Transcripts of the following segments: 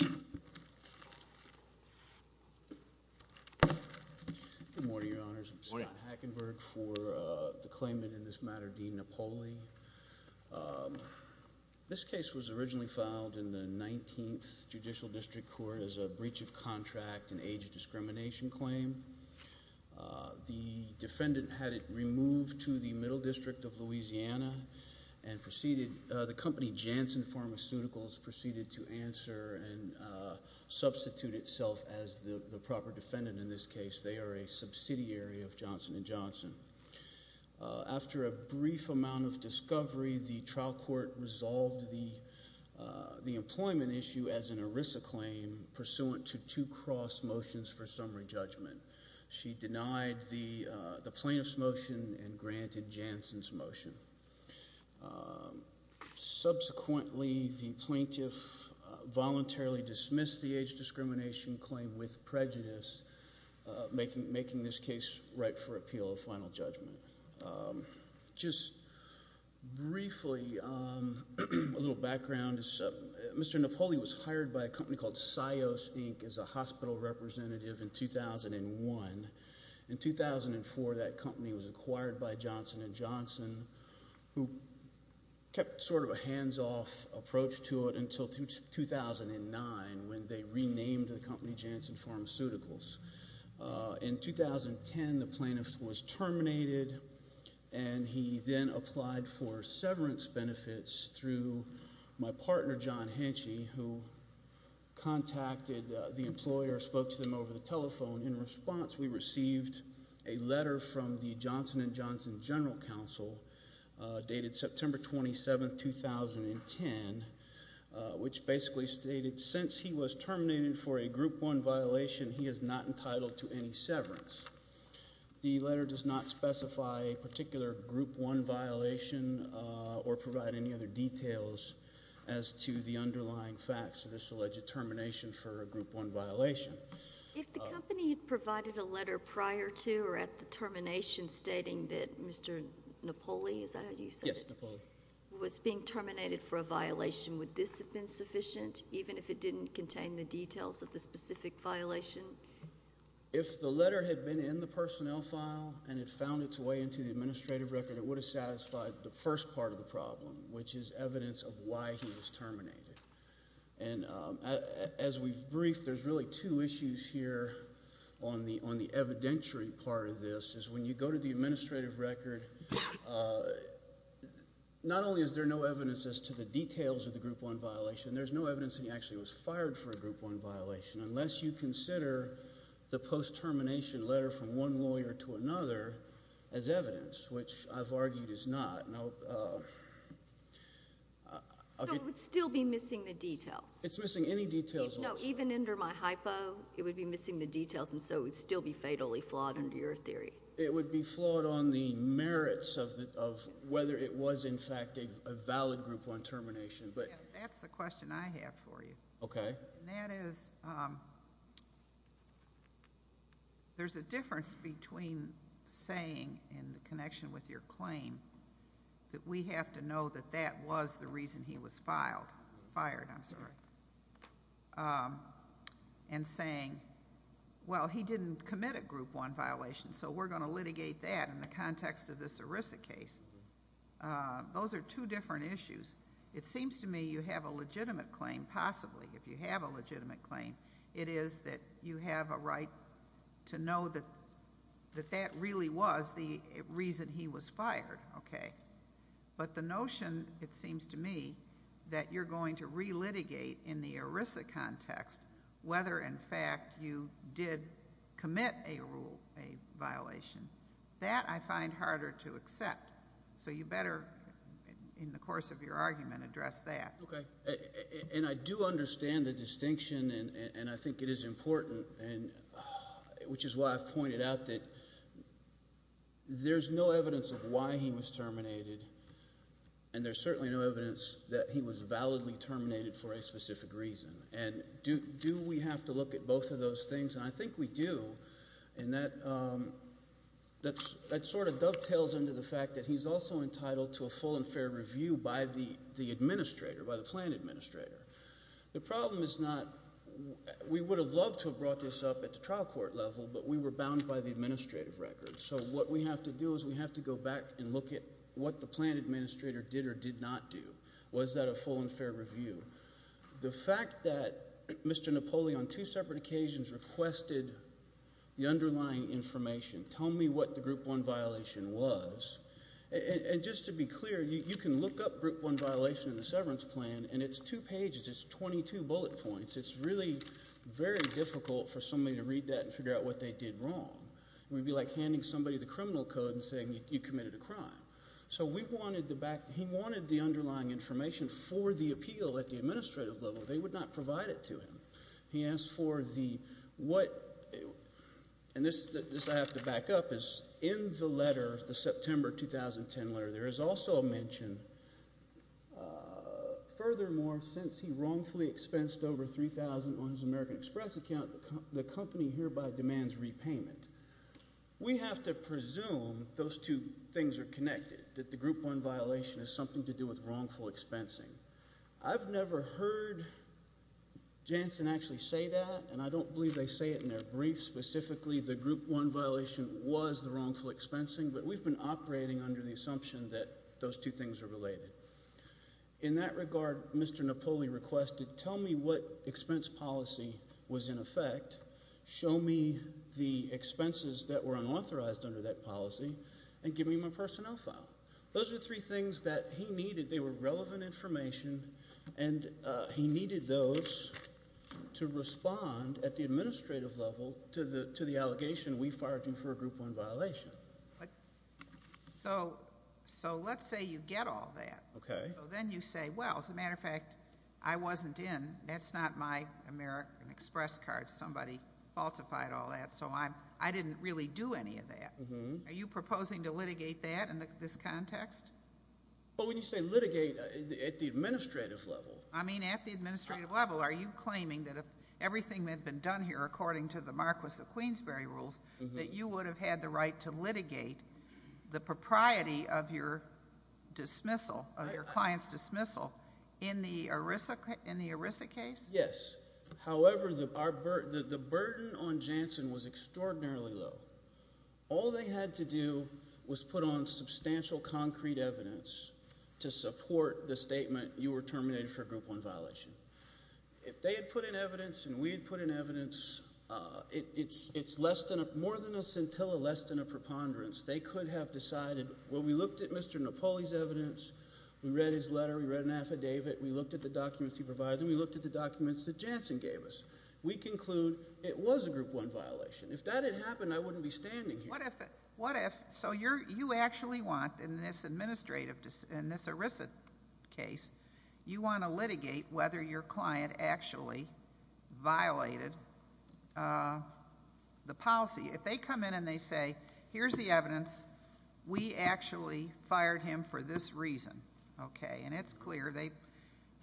Good morning, Your Honors, I'm Scott Hackenberg for the claimant in this matter, Dean Napoli. This case was originally filed in the 19th Judicial District Court as a breach of contract in age of discrimination claim. The defendant had it removed to the Middle District of Louisiana and proceeded, the company Janssen Pharmaceuticals proceeded to answer and substitute itself as the proper defendant in this case. They are a subsidiary of Johnson & Johnson. After a brief amount of discovery, the trial court resolved the employment issue as an ERISA claim pursuant to two cross motions for summary judgment. She denied the plaintiff's motion and granted Janssen's motion. Subsequently, the plaintiff voluntarily dismissed the age discrimination claim with prejudice, making this case ripe for appeal of final judgment. Just briefly, a little background, Mr. Napoli was hired by a company called Sios, Inc. as a hospital representative in 2001. In 2004, that company was acquired by Johnson & Johnson who kept sort of a hands-off approach to it until 2009 when they renamed the company Janssen Pharmaceuticals. In 2010, the plaintiff was terminated and he then applied for severance benefits through my partner, John Henchey, who contacted the employer, spoke to them over the telephone. In response, we received a letter from the Johnson & Johnson General Counsel dated September 27, 2010, which basically stated, since he was terminated for a Group 1 violation, he is not entitled to any severance. The letter does not specify a particular Group 1 violation or provide any other details as to the underlying facts of this alleged termination for a Group 1 violation. If the company had provided a letter prior to or at the termination stating that Mr. Napoli, is that how you said it? Yes, Napoli. Was being terminated for a violation, would this have been sufficient, even if it didn't contain the details of the specific violation? If the letter had been in the personnel file and it found its way into the administrative record, it would have satisfied the first part of the problem, which is evidence of why he was terminated. As we've briefed, there's really two issues here on the evidentiary part of this, is when you go to the administrative record, not only is there no evidence as to the details of the Group 1 violation, there's no evidence that he actually was fired for a Group 1 violation, unless you consider the post-termination letter from one lawyer to another as evidence, which I've argued is not. So it would still be missing the details? It's missing any details. No, even under my hypo, it would be missing the details, and so it would still be fatally flawed under your theory. It would be flawed on the merits of whether it was, in fact, a valid Group 1 termination. That's the question I have for you. Okay. And that is, there's a difference between saying, in connection with your claim, that we have to know that that was the reason he was fired, and saying, well, he didn't commit a Group 1 violation, so we're going to litigate that in the context of this ERISA case. Those are two different issues. It seems to me you have a legitimate claim, possibly, if you have a legitimate claim. It is that you have a right to know that that really was the reason he was fired, okay? But the notion, it seems to me, that you're going to re-litigate in the ERISA context whether, in fact, you did commit a violation, that I find harder to accept. So you better, in the course of your argument, address that. Okay. And I do understand the distinction, and I think it is important, which is why I've pointed out that there's no evidence of why he was terminated, and there's certainly no evidence that he was validly terminated for a specific reason. And do we have to look at both of those things? And I think we do, and that sort of dovetails into the fact that he's also entitled to a full and fair review by the administrator, by the plan administrator. The problem is not, we would have loved to have brought this up at the trial court level, but we were bound by the administrative records. So what we have to do is we have to go back and look at what the plan administrator did or did not do. Was that a full and fair review? The fact that Mr. Napoli, on two separate occasions, requested the underlying information, tell me what the Group 1 violation was. And just to be clear, you can look up Group 1 violation in the severance plan, and it's two pages. It's 22 bullet points. It's really very difficult for somebody to read that and figure out what they did wrong. It would be like handing somebody the criminal code and saying you committed a crime. So we wanted to back, he wanted the underlying information for the appeal at the administrative level. They would not provide it to him. He asked for the, what, and this I have to back up, is in the letter, the September 2010 letter, there is also a mention, furthermore, since he wrongfully expensed over $3,000 on his American Express account, the company hereby demands repayment. We have to presume those two things are connected, that the Group 1 violation is something to do with wrongful expensing. I've never heard Janssen actually say that, and I don't believe they say it in their briefs specifically the Group 1 violation was the wrongful expensing, but we've been operating under the assumption that those two things are related. In that regard, Mr. Napoli requested, tell me what expense policy was in effect, show me the expenses that were unauthorized under that policy, and give me my personnel file. Those are the three things that he needed. They were relevant information, and he needed those to respond at the administrative level to the allegation we fired him for a Group 1 violation. So let's say you get all that. Okay. So then you say, well, as a matter of fact, I wasn't in, that's not my American Express card, somebody falsified all that, so I didn't really do any of that. Are you proposing to litigate that in this context? Well, when you say litigate, at the administrative level. I mean, at the administrative level, are you claiming that if everything had been done here according to the Marquis of Queensberry rules, that you would have had the right to litigate the propriety of your dismissal, of your client's dismissal, in the ERISA case? Yes. However, the burden on Jansen was extraordinarily low. All they had to do was put on substantial concrete evidence to support the statement, you were terminated for a Group 1 violation. If they had put in evidence, and we had put in evidence, it's more than a scintilla, less than a preponderance. They could have decided, well, we looked at Mr. Napoli's evidence, we read his letter, we read an affidavit, we looked at the documents he provided, and we looked at the documents that Jansen gave us. We conclude it was a Group 1 violation. If that had happened, I wouldn't be standing here. What if, so you actually want, in this administrative, in this ERISA case, you want to litigate whether your client actually violated the policy. If they come in and they say, here's the evidence, we actually fired him for this reason, okay, and it's clear,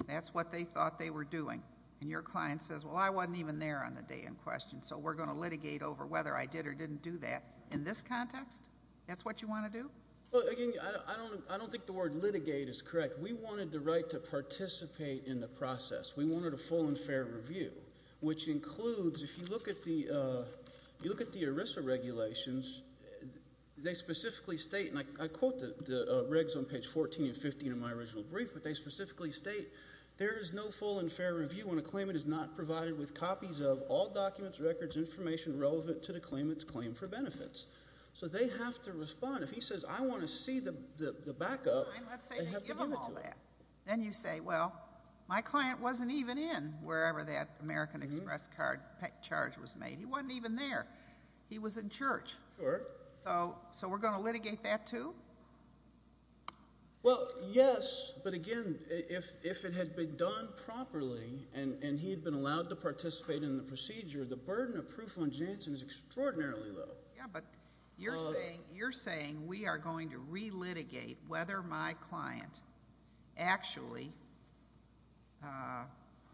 that's what they thought they were doing. And your client says, well, I wasn't even there on the day in question, so we're going to litigate over whether I did or didn't do that, in this context, that's what you want to do? Well, again, I don't think the word litigate is correct. We wanted the right to participate in the process. We wanted a full and fair review, which includes, if you look at the ERISA regulations, they specifically state, and I quote the regs on page 14 and 15 of my original brief, but they specifically state, there is no full and fair review when a claimant is not provided with copies of all documents, records, information relevant to the claimant's claim for benefits. So they have to respond. If he says, I want to see the backup, they have to give it to him. Then you say, well, my client wasn't even in wherever that American Express charge was made. He wasn't even there. He was in church. Sure. So we're going to litigate that, too? Well, yes, but again, if it had been done properly and he had been allowed to participate in the procedure, the burden of proof on Jansen is extraordinarily low. Yeah, but you're saying we are going to re-litigate whether my client actually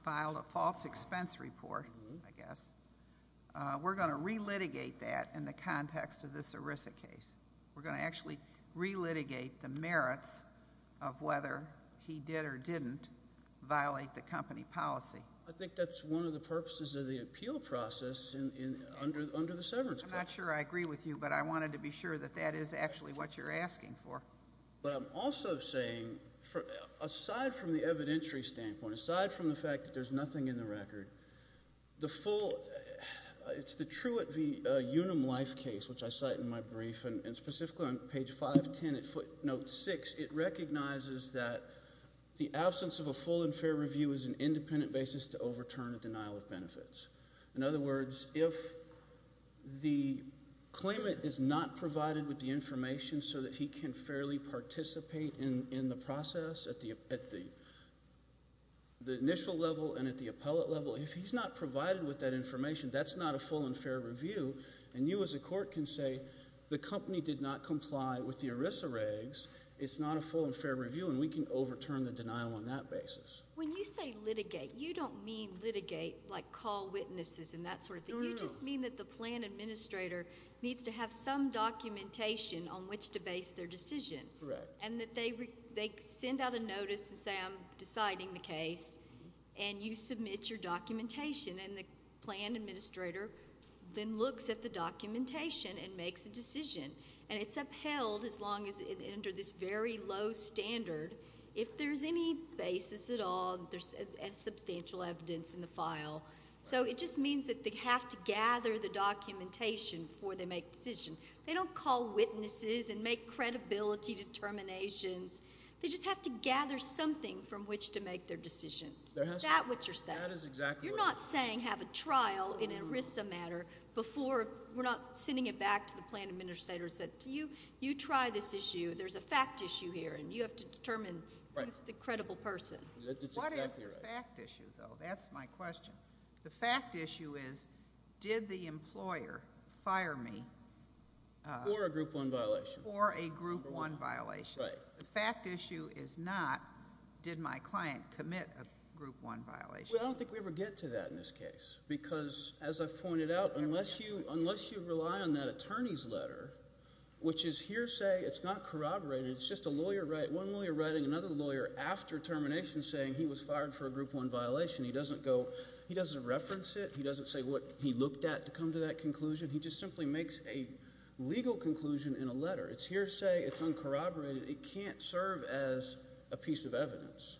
filed a false expense report, I guess. We're going to re-litigate that in the context of this ERISA case. We're going to actually re-litigate the merits of whether he did or didn't violate the company policy. I think that's one of the purposes of the appeal process under the severance clause. I'm not sure I agree with you, but I wanted to be sure that that is actually what you're asking for. But I'm also saying, aside from the evidentiary standpoint, aside from the fact that there's specifically on page 510 at footnote 6, it recognizes that the absence of a full and fair review is an independent basis to overturn a denial of benefits. In other words, if the claimant is not provided with the information so that he can fairly participate in the process at the initial level and at the appellate level, if he's not provided with that information, that's not a full and fair review, and you as a court can say, the company did not comply with the ERISA regs. It's not a full and fair review, and we can overturn the denial on that basis. When you say litigate, you don't mean litigate, like call witnesses and that sort of thing. No, no, no. You just mean that the plan administrator needs to have some documentation on which to base their decision. Correct. And that they send out a notice and say, I'm deciding the case, and you submit your documentation, and the plan administrator then looks at the documentation and makes a decision. And it's upheld as long as it's under this very low standard. If there's any basis at all, there's substantial evidence in the file. So it just means that they have to gather the documentation before they make a decision. They don't call witnesses and make credibility determinations. They just have to gather something from which to make their decision. That is exactly what I'm saying. You're not saying have a trial in an ERISA matter before... we're not sending it back to the plan administrator and say, you try this issue. There's a fact issue here, and you have to determine who's the credible person. Right. That's exactly right. What is the fact issue, though? That's my question. The fact issue is, did the employer fire me... For a Group 1 violation. For a Group 1 violation. Right. The fact issue is not, did my client commit a Group 1 violation? I don't think we ever get to that in this case because, as I've pointed out, unless you rely on that attorney's letter, which is hearsay, it's not corroborated, it's just a lawyer... one lawyer writing another lawyer after termination saying he was fired for a Group 1 violation, he doesn't reference it, he doesn't say what he looked at to come to that conclusion. He just simply makes a legal conclusion in a letter. It's hearsay. It's uncorroborated. It can't serve as a piece of evidence.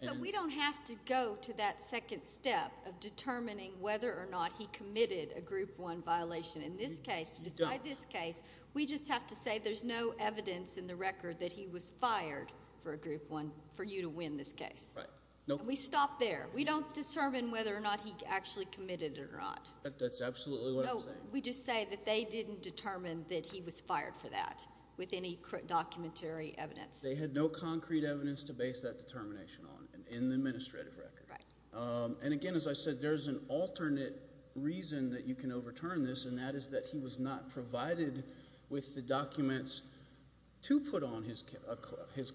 So we don't have to go to that second step of determining whether or not he committed a Group 1 violation. In this case, to decide this case, we just have to say there's no evidence in the record that he was fired for a Group 1, for you to win this case. Right. Nope. And we stop there. We don't determine whether or not he actually committed it or not. That's absolutely what I'm saying. No. We just say that they didn't determine that he was fired for that with any documentary evidence. They had no concrete evidence to base that determination on in the administrative record. Right. And again, as I said, there's an alternate reason that you can overturn this, and that is that he was not provided with the documents to put on his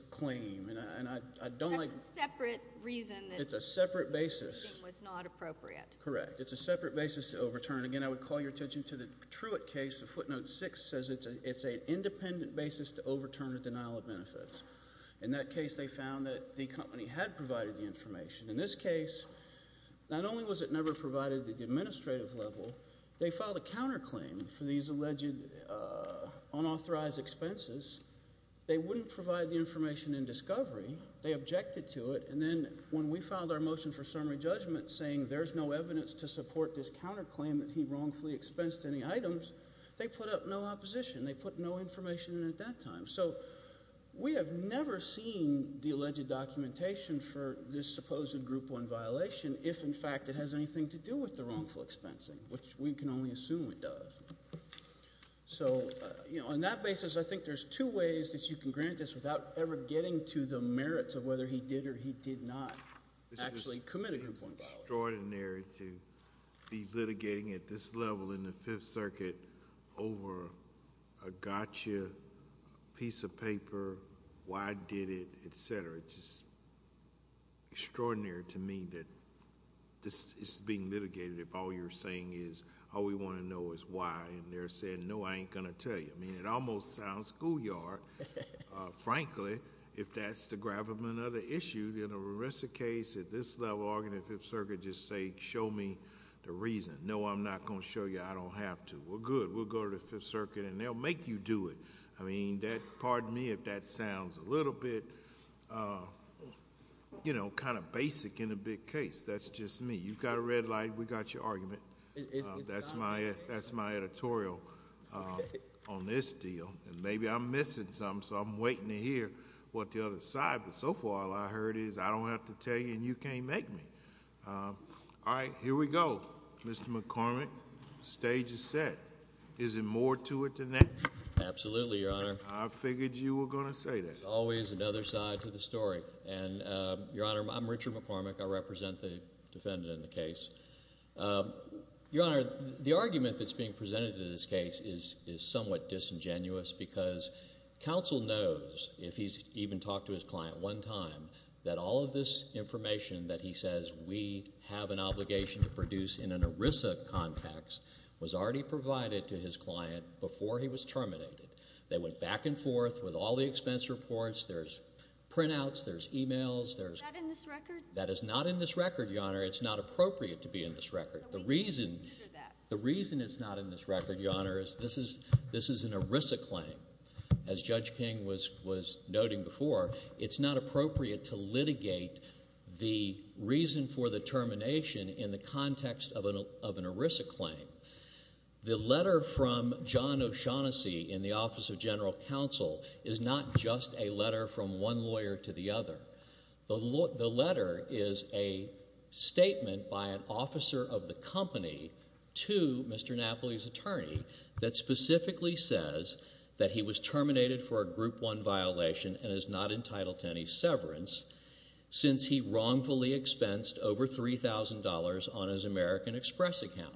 claim. And I don't like... That's a separate reason that... It's a separate basis.... the determination was not appropriate. Correct. It's a separate basis to overturn. Again, I would call your attention to the Truitt case, the footnote 6 says it's an independent basis to overturn a denial of benefits. In that case, they found that the company had provided the information. In this case, not only was it never provided at the administrative level, they filed a counterclaim for these alleged unauthorized expenses. They wouldn't provide the information in discovery. They objected to it, and then when we filed our motion for summary judgment saying there's no evidence to support this counterclaim that he wrongfully expensed any items, they put up no opposition. They put no information in at that time. So we have never seen the alleged documentation for this supposed Group 1 violation if, in fact, it has anything to do with the wrongful expensing, which we can only assume it does. So on that basis, I think there's two ways that you can grant this without ever getting to the merits of whether he did or he did not actually commit a Group 1 violation. It's extraordinary to be litigating at this level in the Fifth Circuit over a gotcha piece of paper, why I did it, et cetera. It's just extraordinary to me that this is being litigated if all you're saying is all we want to know is why, and they're saying, no, I ain't going to tell you. It almost sounds schoolyard, frankly, if that's the gravamen of the issue. The rest of the case, at this level, arguing in the Fifth Circuit, just say, show me the reason. No, I'm not going to show you I don't have to. We're good. We'll go to the Fifth Circuit, and they'll make you do it. I mean, pardon me if that sounds a little bit basic in a big case. That's just me. You've got a red light. We've got your argument. That's my editorial on this deal, and maybe I'm missing something, so I'm waiting to hear what the other side, but so far, all I heard is, I don't have to tell you, and you can't make me. All right, here we go, Mr. McCormick. The stage is set. Is there more to it than that? Absolutely, Your Honor. I figured you were going to say that. Always another side to the story, and Your Honor, I'm Richard McCormick. I represent the defendant in the case. Your Honor, the argument that's being presented in this case is somewhat disingenuous because counsel knows, if he's even talked to his client one time, that all of this information that he says we have an obligation to produce in an ERISA context was already provided to his client before he was terminated. They went back and forth with all the expense reports. There's printouts. There's emails. Is that in this record? That is not in this record, Your Honor. It's not appropriate to be in this record. The reason it's not in this record, Your Honor, is this is an ERISA claim. As Judge King was noting before, it's not appropriate to litigate the reason for the termination in the context of an ERISA claim. The letter from John O'Shaughnessy in the Office of General Counsel is not just a letter from one lawyer to the other. The letter is a statement by an officer of the company to Mr. Napoli's attorney that specifically says that he was terminated for a Group 1 violation and is not entitled to any severance since he wrongfully expensed over $3,000 on his American Express account.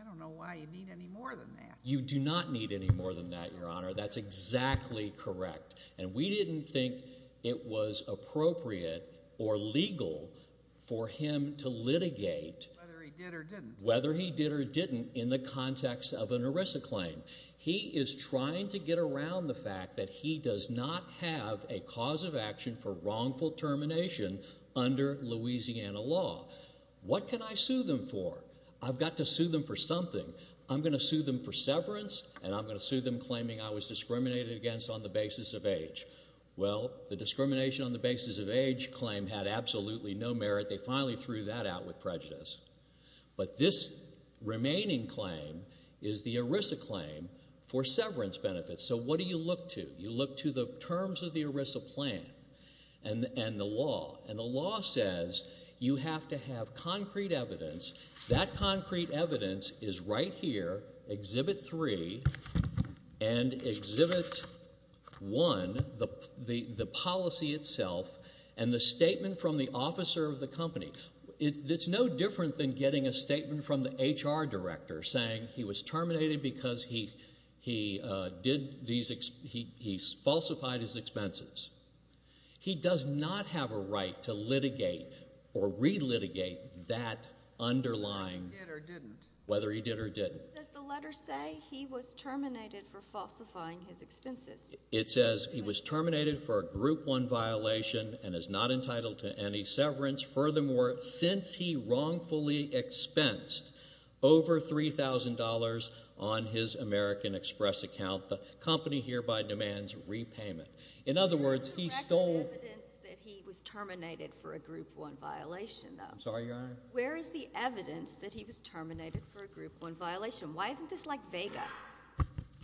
I don't know why you need any more than that. You do not need any more than that, Your Honor. That's exactly correct. And we didn't think it was appropriate or legal for him to litigate whether he did or didn't in the context of an ERISA claim. He is trying to get around the fact that he does not have a cause of action for wrongful termination under Louisiana law. What can I sue them for? I've got to sue them for something. I'm going to sue them for severance and I'm going to sue them claiming I was discriminated against on the basis of age. Well, the discrimination on the basis of age claim had absolutely no merit. They finally threw that out with prejudice. But this remaining claim is the ERISA claim for severance benefits. So what do you look to? You look to the terms of the ERISA plan and the law. And the law says you have to have concrete evidence. That concrete evidence is right here, Exhibit 3 and Exhibit 1, the policy itself and the statement from the officer of the company. It's no different than getting a statement from the HR director saying he was terminated because he falsified his expenses. He does not have a right to litigate or re-litigate that underlying whether he did or didn't. Does the letter say he was terminated for falsifying his expenses? It says he was terminated for a Group 1 violation and is not entitled to any severance. Furthermore, since he wrongfully expensed over $3,000 on his American Express account, the company hereby demands repayment. In other words, he stole- Where is the actual evidence that he was terminated for a Group 1 violation, though? I'm sorry, Your Honor? Where is the evidence that he was terminated for a Group 1 violation? Why isn't this like vega?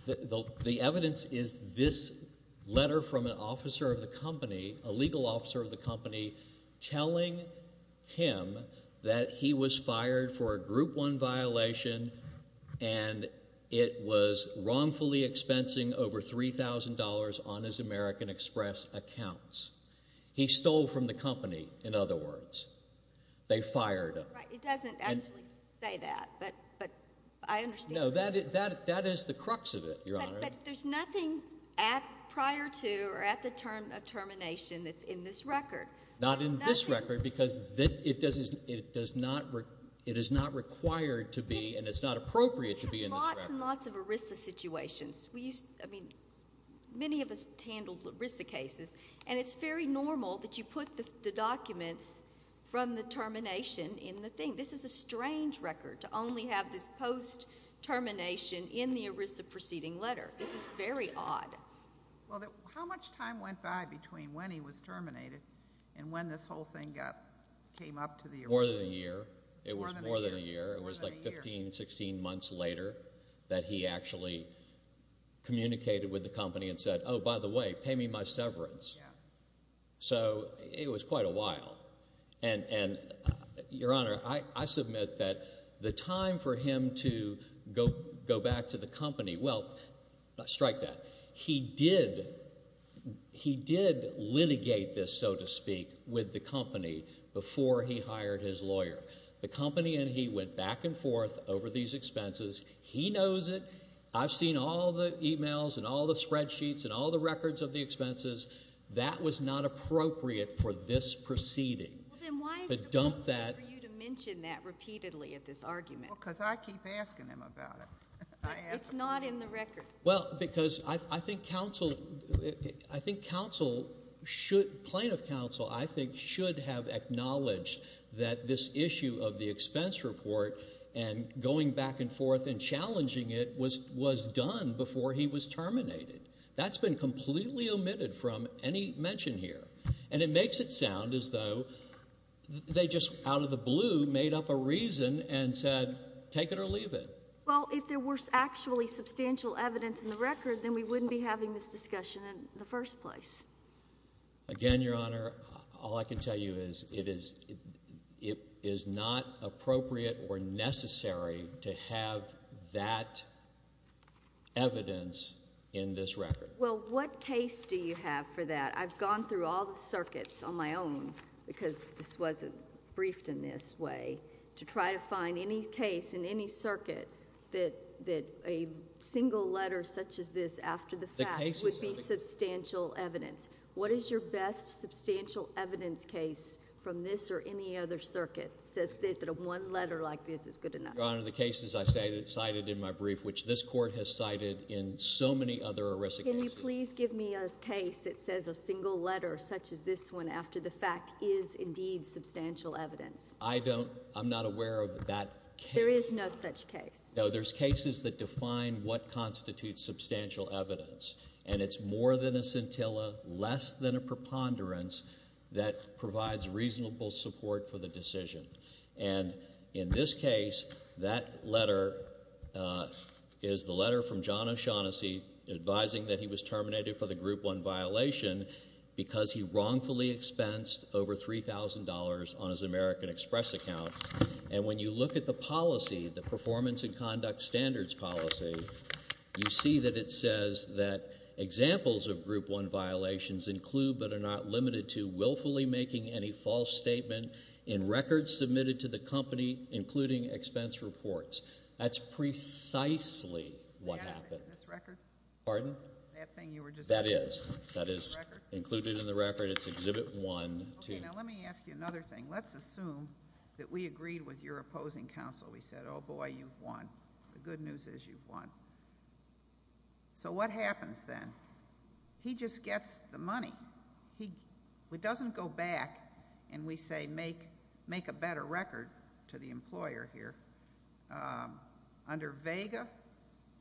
The evidence is this letter from an officer of the company, a legal officer of the company telling him that he was fired for a Group 1 violation and it was wrongfully expensing over $3,000 on his American Express accounts. He stole from the company, in other words. They fired him. Right. It doesn't actually say that, but I understand- No. That is the crux of it, Your Honor. But there's nothing prior to or at the term of termination that's in this record. Not in this record because it is not required to be and it's not appropriate to be in this record. We have lots and lots of ERISA situations. I mean, many of us handled ERISA cases and it's very normal that you put the documents from the termination in the thing. This is a strange record to only have this post-termination in the ERISA proceeding letter. This is very odd. How much time went by between when he was terminated and when this whole thing came up to the ERISA? More than a year. More than a year. It was more than a year. It was like 15, 16 months later that he actually communicated with the company and said, oh, by the way, pay me my severance. So it was quite a while. And, Your Honor, I submit that the time for him to go back to the company, well, strike that. He did litigate this, so to speak, with the company before he hired his lawyer. The company and he went back and forth over these expenses. He knows it. I've seen all the emails and all the spreadsheets and all the records of the expenses. That was not appropriate for this proceeding. Well, then why is it appropriate for you to mention that repeatedly at this argument? Well, because I keep asking him about it. It's not in the record. Well, because I think counsel should, plaintiff counsel, I think should have acknowledged that this issue of the expense report and going back and forth and challenging it was done before he was terminated. That's been completely omitted from any mention here. And it makes it sound as though they just out of the blue made up a reason and said take it or leave it. Well, if there were actually substantial evidence in the record, then we wouldn't be having this discussion in the first place. Again, Your Honor, all I can tell you is it is not appropriate or necessary to have that evidence in this record. Well, what case do you have for that? I've gone through all the circuits on my own because this wasn't briefed in this way to try to find any case in any circuit that a single letter such as this after the fact would be substantial evidence. What is your best substantial evidence case from this or any other circuit that says that a one letter like this is good enough? Your Honor, the cases I cited in my brief, which this Court has cited in so many other erisic cases. Can you please give me a case that says a single letter such as this one after the fact is indeed substantial evidence? I don't. I'm not aware of that case. There is no such case. No, there's cases that define what constitutes substantial evidence. And it's more than a scintilla, less than a preponderance that provides reasonable support for the decision. And in this case, that letter is the letter from John O'Shaughnessy advising that he was terminated for the Group 1 violation because he wrongfully expensed over $3,000 on his American Express account. And when you look at the policy, the performance and conduct standards policy, you see that it says that examples of Group 1 violations include but are not limited to willfully making any false statement in records submitted to the company, including expense reports. That's precisely what happened. Is that in this record? Pardon? That thing you were just talking about? That is. That is included in the record. It's Exhibit 1. Okay. Now, let me ask you another thing. Let's assume that we agreed with your opposing counsel. We said, oh, boy, you've won. The good news is you've won. So what happens then? He just gets the money. He doesn't go back and, we say, make a better record to the employer here. Under Vega,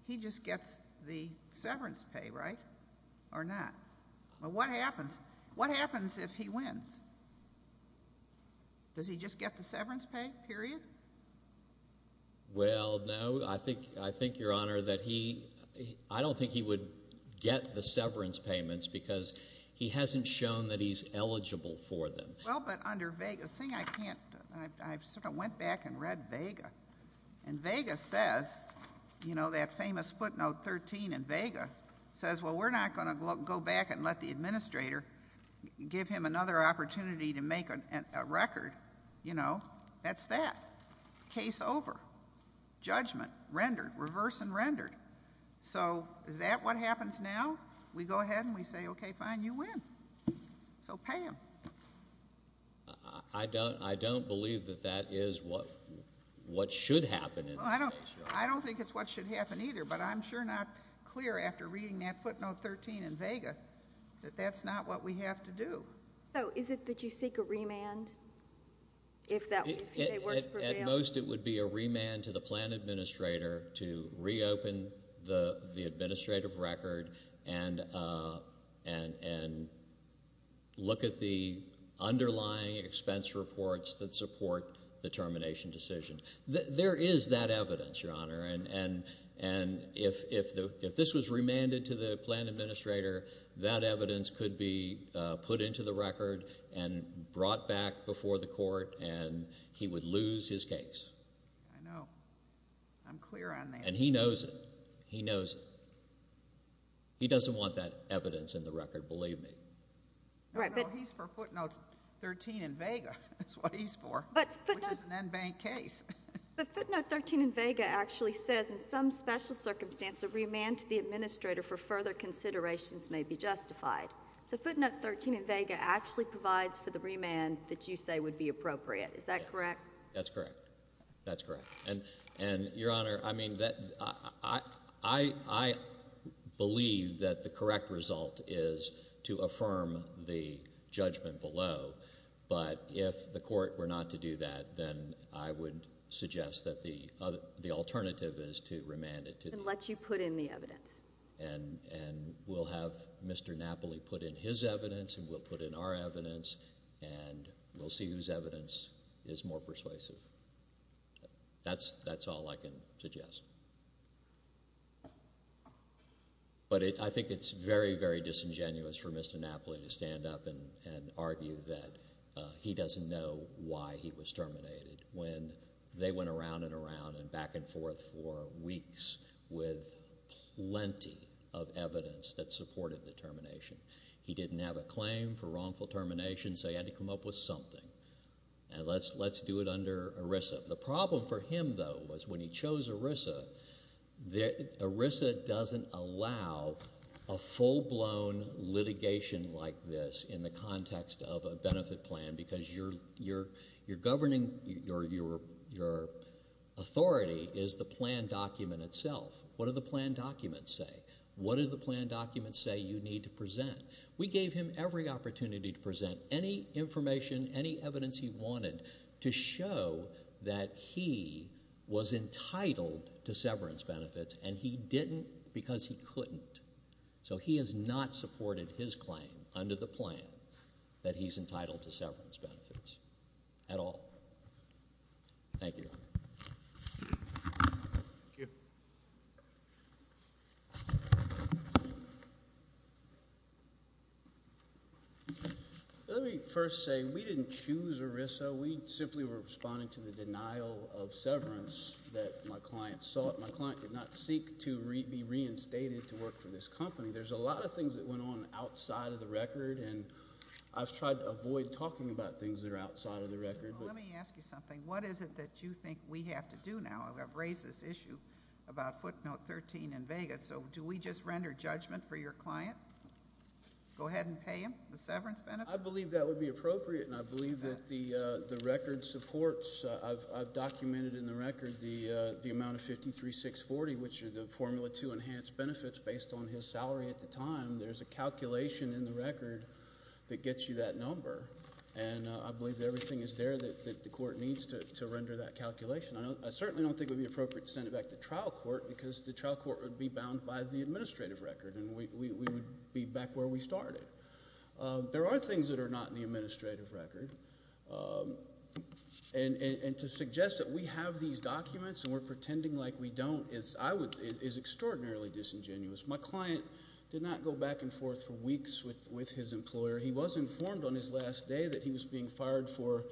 he just gets the severance pay, right, or not? What happens if he wins? Does he just get the severance pay, period? Well, no, I think, Your Honor, that he I don't think he would get the severance payments because he hasn't shown that he's eligible for them. Well, but under Vega, the thing I can't, I sort of went back and read Vega. And Vega says, you know, that famous footnote 13 in Vega says, well, we're not going to go back and let the administrator give him another opportunity to make a record, you know. That's that. Case over. Judgment. Rendered. Reverse and rendered. So is that what happens now? We go ahead and we say, okay, fine, you win. So pay him. I don't, I don't believe that that is what, what should happen in this case, Your Honor. I don't think it's what should happen either, but I'm sure not clear after reading that footnote 13 in Vega that that's not what we have to do. So is it that you seek a remand if that, if they work for them? At most, it would be a remand to the plan administrator to reopen the, the administrative record and, and, and look at the underlying expense reports that support the termination decision. There, there is that evidence, Your Honor, and, and, and if, if the, if this was remanded to the plan administrator, that evidence could be put into the record and brought back before the court and he would lose his case. I know. I'm clear on that. And he knows it. He knows it. He doesn't want that evidence in the record, believe me. Right, but. No, no, he's for footnote 13 in Vega. That's what he's for. But footnote. Which is an in-bank case. But footnote 13 in Vega actually says, in some special circumstance, a remand to the administrator for further considerations may be justified. So footnote 13 in Vega actually provides for the remand that you say would be appropriate. Is that correct? Yes. That's correct. That's correct. And, and, Your Honor, I mean, that, I, I, I believe that the correct result is to affirm the judgment below, but if the court were not to do that, then I would suggest that the other, the alternative is to remand it to. And let you put in the evidence. And, and we'll have Mr. Napoli put in his evidence and we'll put in our evidence and we'll see whose evidence is more persuasive. That's, that's all I can suggest. But it, I think it's very, very disingenuous for Mr. Napoli to stand up and, and argue that he doesn't know why he was terminated when they went around and around and back and forth for weeks with plenty of evidence that supported the termination. He didn't have a claim for wrongful termination, so he had to come up with something. And let's, let's do it under ERISA. The problem for him, though, was when he chose ERISA, the, ERISA doesn't allow a full-blown litigation like this in the context of a benefit plan because your, your, your governing, your, your, your authority is the plan document itself. What do the plan documents say? What do the plan documents say you need to present? We gave him every opportunity to present any information, any evidence he wanted to show that he was entitled to severance benefits and he didn't because he couldn't. So he has not supported his claim under the plan that he's entitled to severance benefits at all. Thank you. Thank you. Let me first say we didn't choose ERISA. We simply were responding to the denial of severance that my client sought. My client did not seek to re, be reinstated to work for this company. There's a lot of things that went on outside of the record and I've tried to avoid talking about things that are outside of the record, but. Let me ask you something. What is it that you think we have to do now? I've raised this issue about footnote 13 in Vegas, so do we just render judgment for your client? Go ahead and pay him the severance benefit? I believe that would be appropriate and I believe that the, the record supports, I've, I've documented in the record the, the amount of 53,640, which is a formula to enhance benefits based on his salary at the time. There's a calculation in the record that gets you that number and I believe that everything is there that, that the court needs to, to render that calculation. I don't, I certainly don't think it would be appropriate to send it back to trial court because the trial court would be bound by the administrative record and we, we, we would be back where we started. There are things that are not in the administrative record and, and to suggest that we have these documents and we're pretending like we don't is, I would, is extraordinarily disingenuous. My client did not go back and forth for weeks with, with his employer. He was informed on his last day that he was being fired for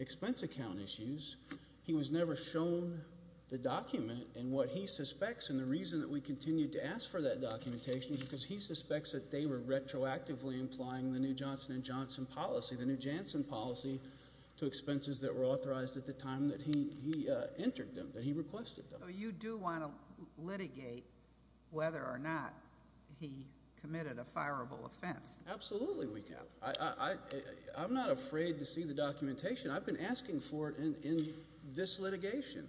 expense account issues. He was never shown the document and what he suspects and the reason that we continued to ask for that documentation is because he suspects that they were retroactively implying the new Johnson and Johnson policy, the new Janssen policy to expenses that were authorized at the time that he, he entered them, that he requested them. So you do want to litigate whether or not he committed a fireable offense? Absolutely we can. I, I, I, I, I'm not afraid to see the documentation. I've been asking for it in, in this litigation.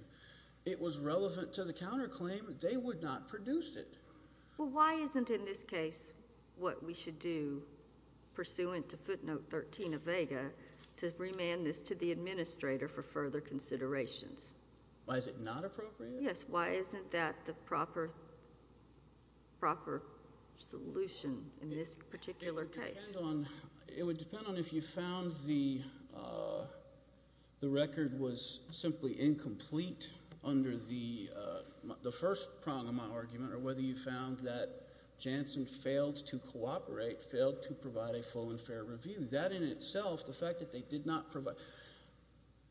It was relevant to the counterclaim. They would not produce it. Well, why isn't in this case what we should do pursuant to footnote 13 of vega to remand this to the administrator for further considerations? Why is it not appropriate? Yes. Why isn't that the proper, proper solution in this particular case? It would depend on, it would depend on if you found the, the record was simply incomplete under the, the first prong of my argument or whether you found that Janssen failed to cooperate, failed to provide a full and fair review. That in itself, the fact that they did not provide,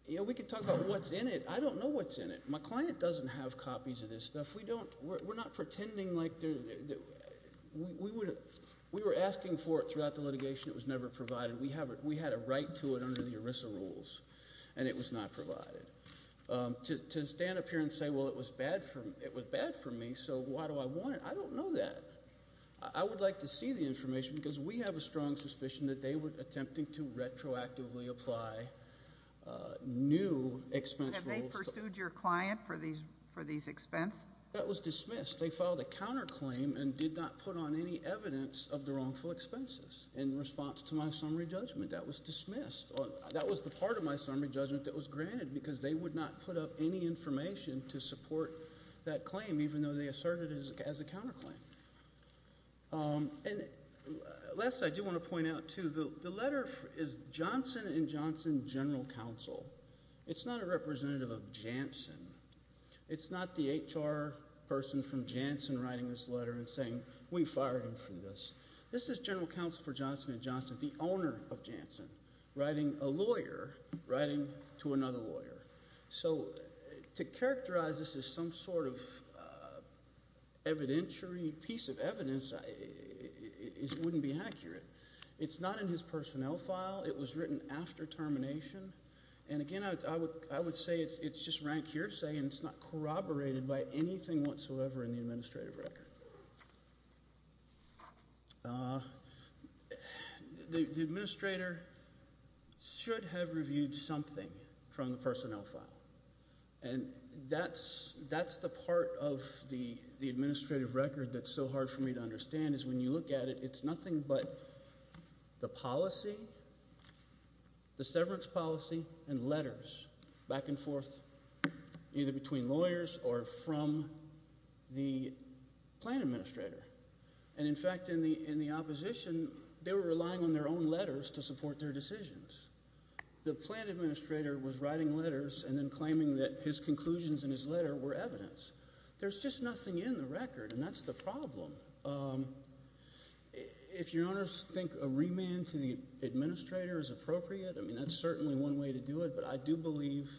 you know, we could talk about what's in it. I don't know what's in it. My client doesn't have copies of this stuff. If we don't, we're not pretending like they're, we would, we were asking for it throughout the litigation. It was never provided. We have, we had a right to it under the ERISA rules and it was not provided. To stand up here and say, well, it was bad for, it was bad for me. So why do I want it? I don't know that. I would like to see the information because we have a strong suspicion that they were attempting to retroactively apply new expense rules. They pursued your client for these, for these expense? That was dismissed. They filed a counterclaim and did not put on any evidence of the wrongful expenses in response to my summary judgment. That was dismissed. That was the part of my summary judgment that was granted because they would not put up any information to support that claim, even though they asserted it as a counterclaim. And last, I do want to point out too, the letter is Johnson and Johnson General Counsel. It's not a representative of Janssen. It's not the HR person from Janssen writing this letter and saying, we fired him for this. This is General Counsel for Johnson and Johnson, the owner of Janssen, writing a lawyer, writing to another lawyer. So to characterize this as some sort of evidentiary piece of evidence, it wouldn't be accurate. It's not in his personnel file. It was written after termination. And again, I would say it's just rank hearsay and it's not corroborated by anything whatsoever in the administrative record. The administrator should have reviewed something from the personnel file. And that's the part of the administrative record that's so hard for me to understand is when you look at it, it's nothing but the policy, the severance policy, and letters back and forth, either between lawyers or from the plan administrator. And in fact, in the opposition, they were relying on their own letters to support their decisions. The plan administrator was writing letters and then claiming that his conclusions in his letter were evidence. There's just nothing in the record, and that's the problem. If Your Honors think a remand to the administrator is appropriate, I mean, that's certainly one way to do it. But I do believe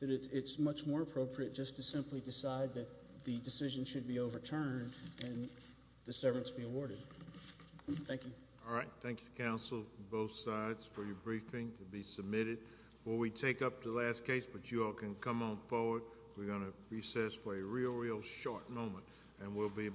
that it's much more appropriate just to simply decide that the decision should be overturned and the severance be awarded. Thank you. All right. Thank you, Counsel, from both sides, for your briefing to be submitted. Before we take up the last case, but you all can come on forward, we're going to recess for a real, real short moment, and we'll be back.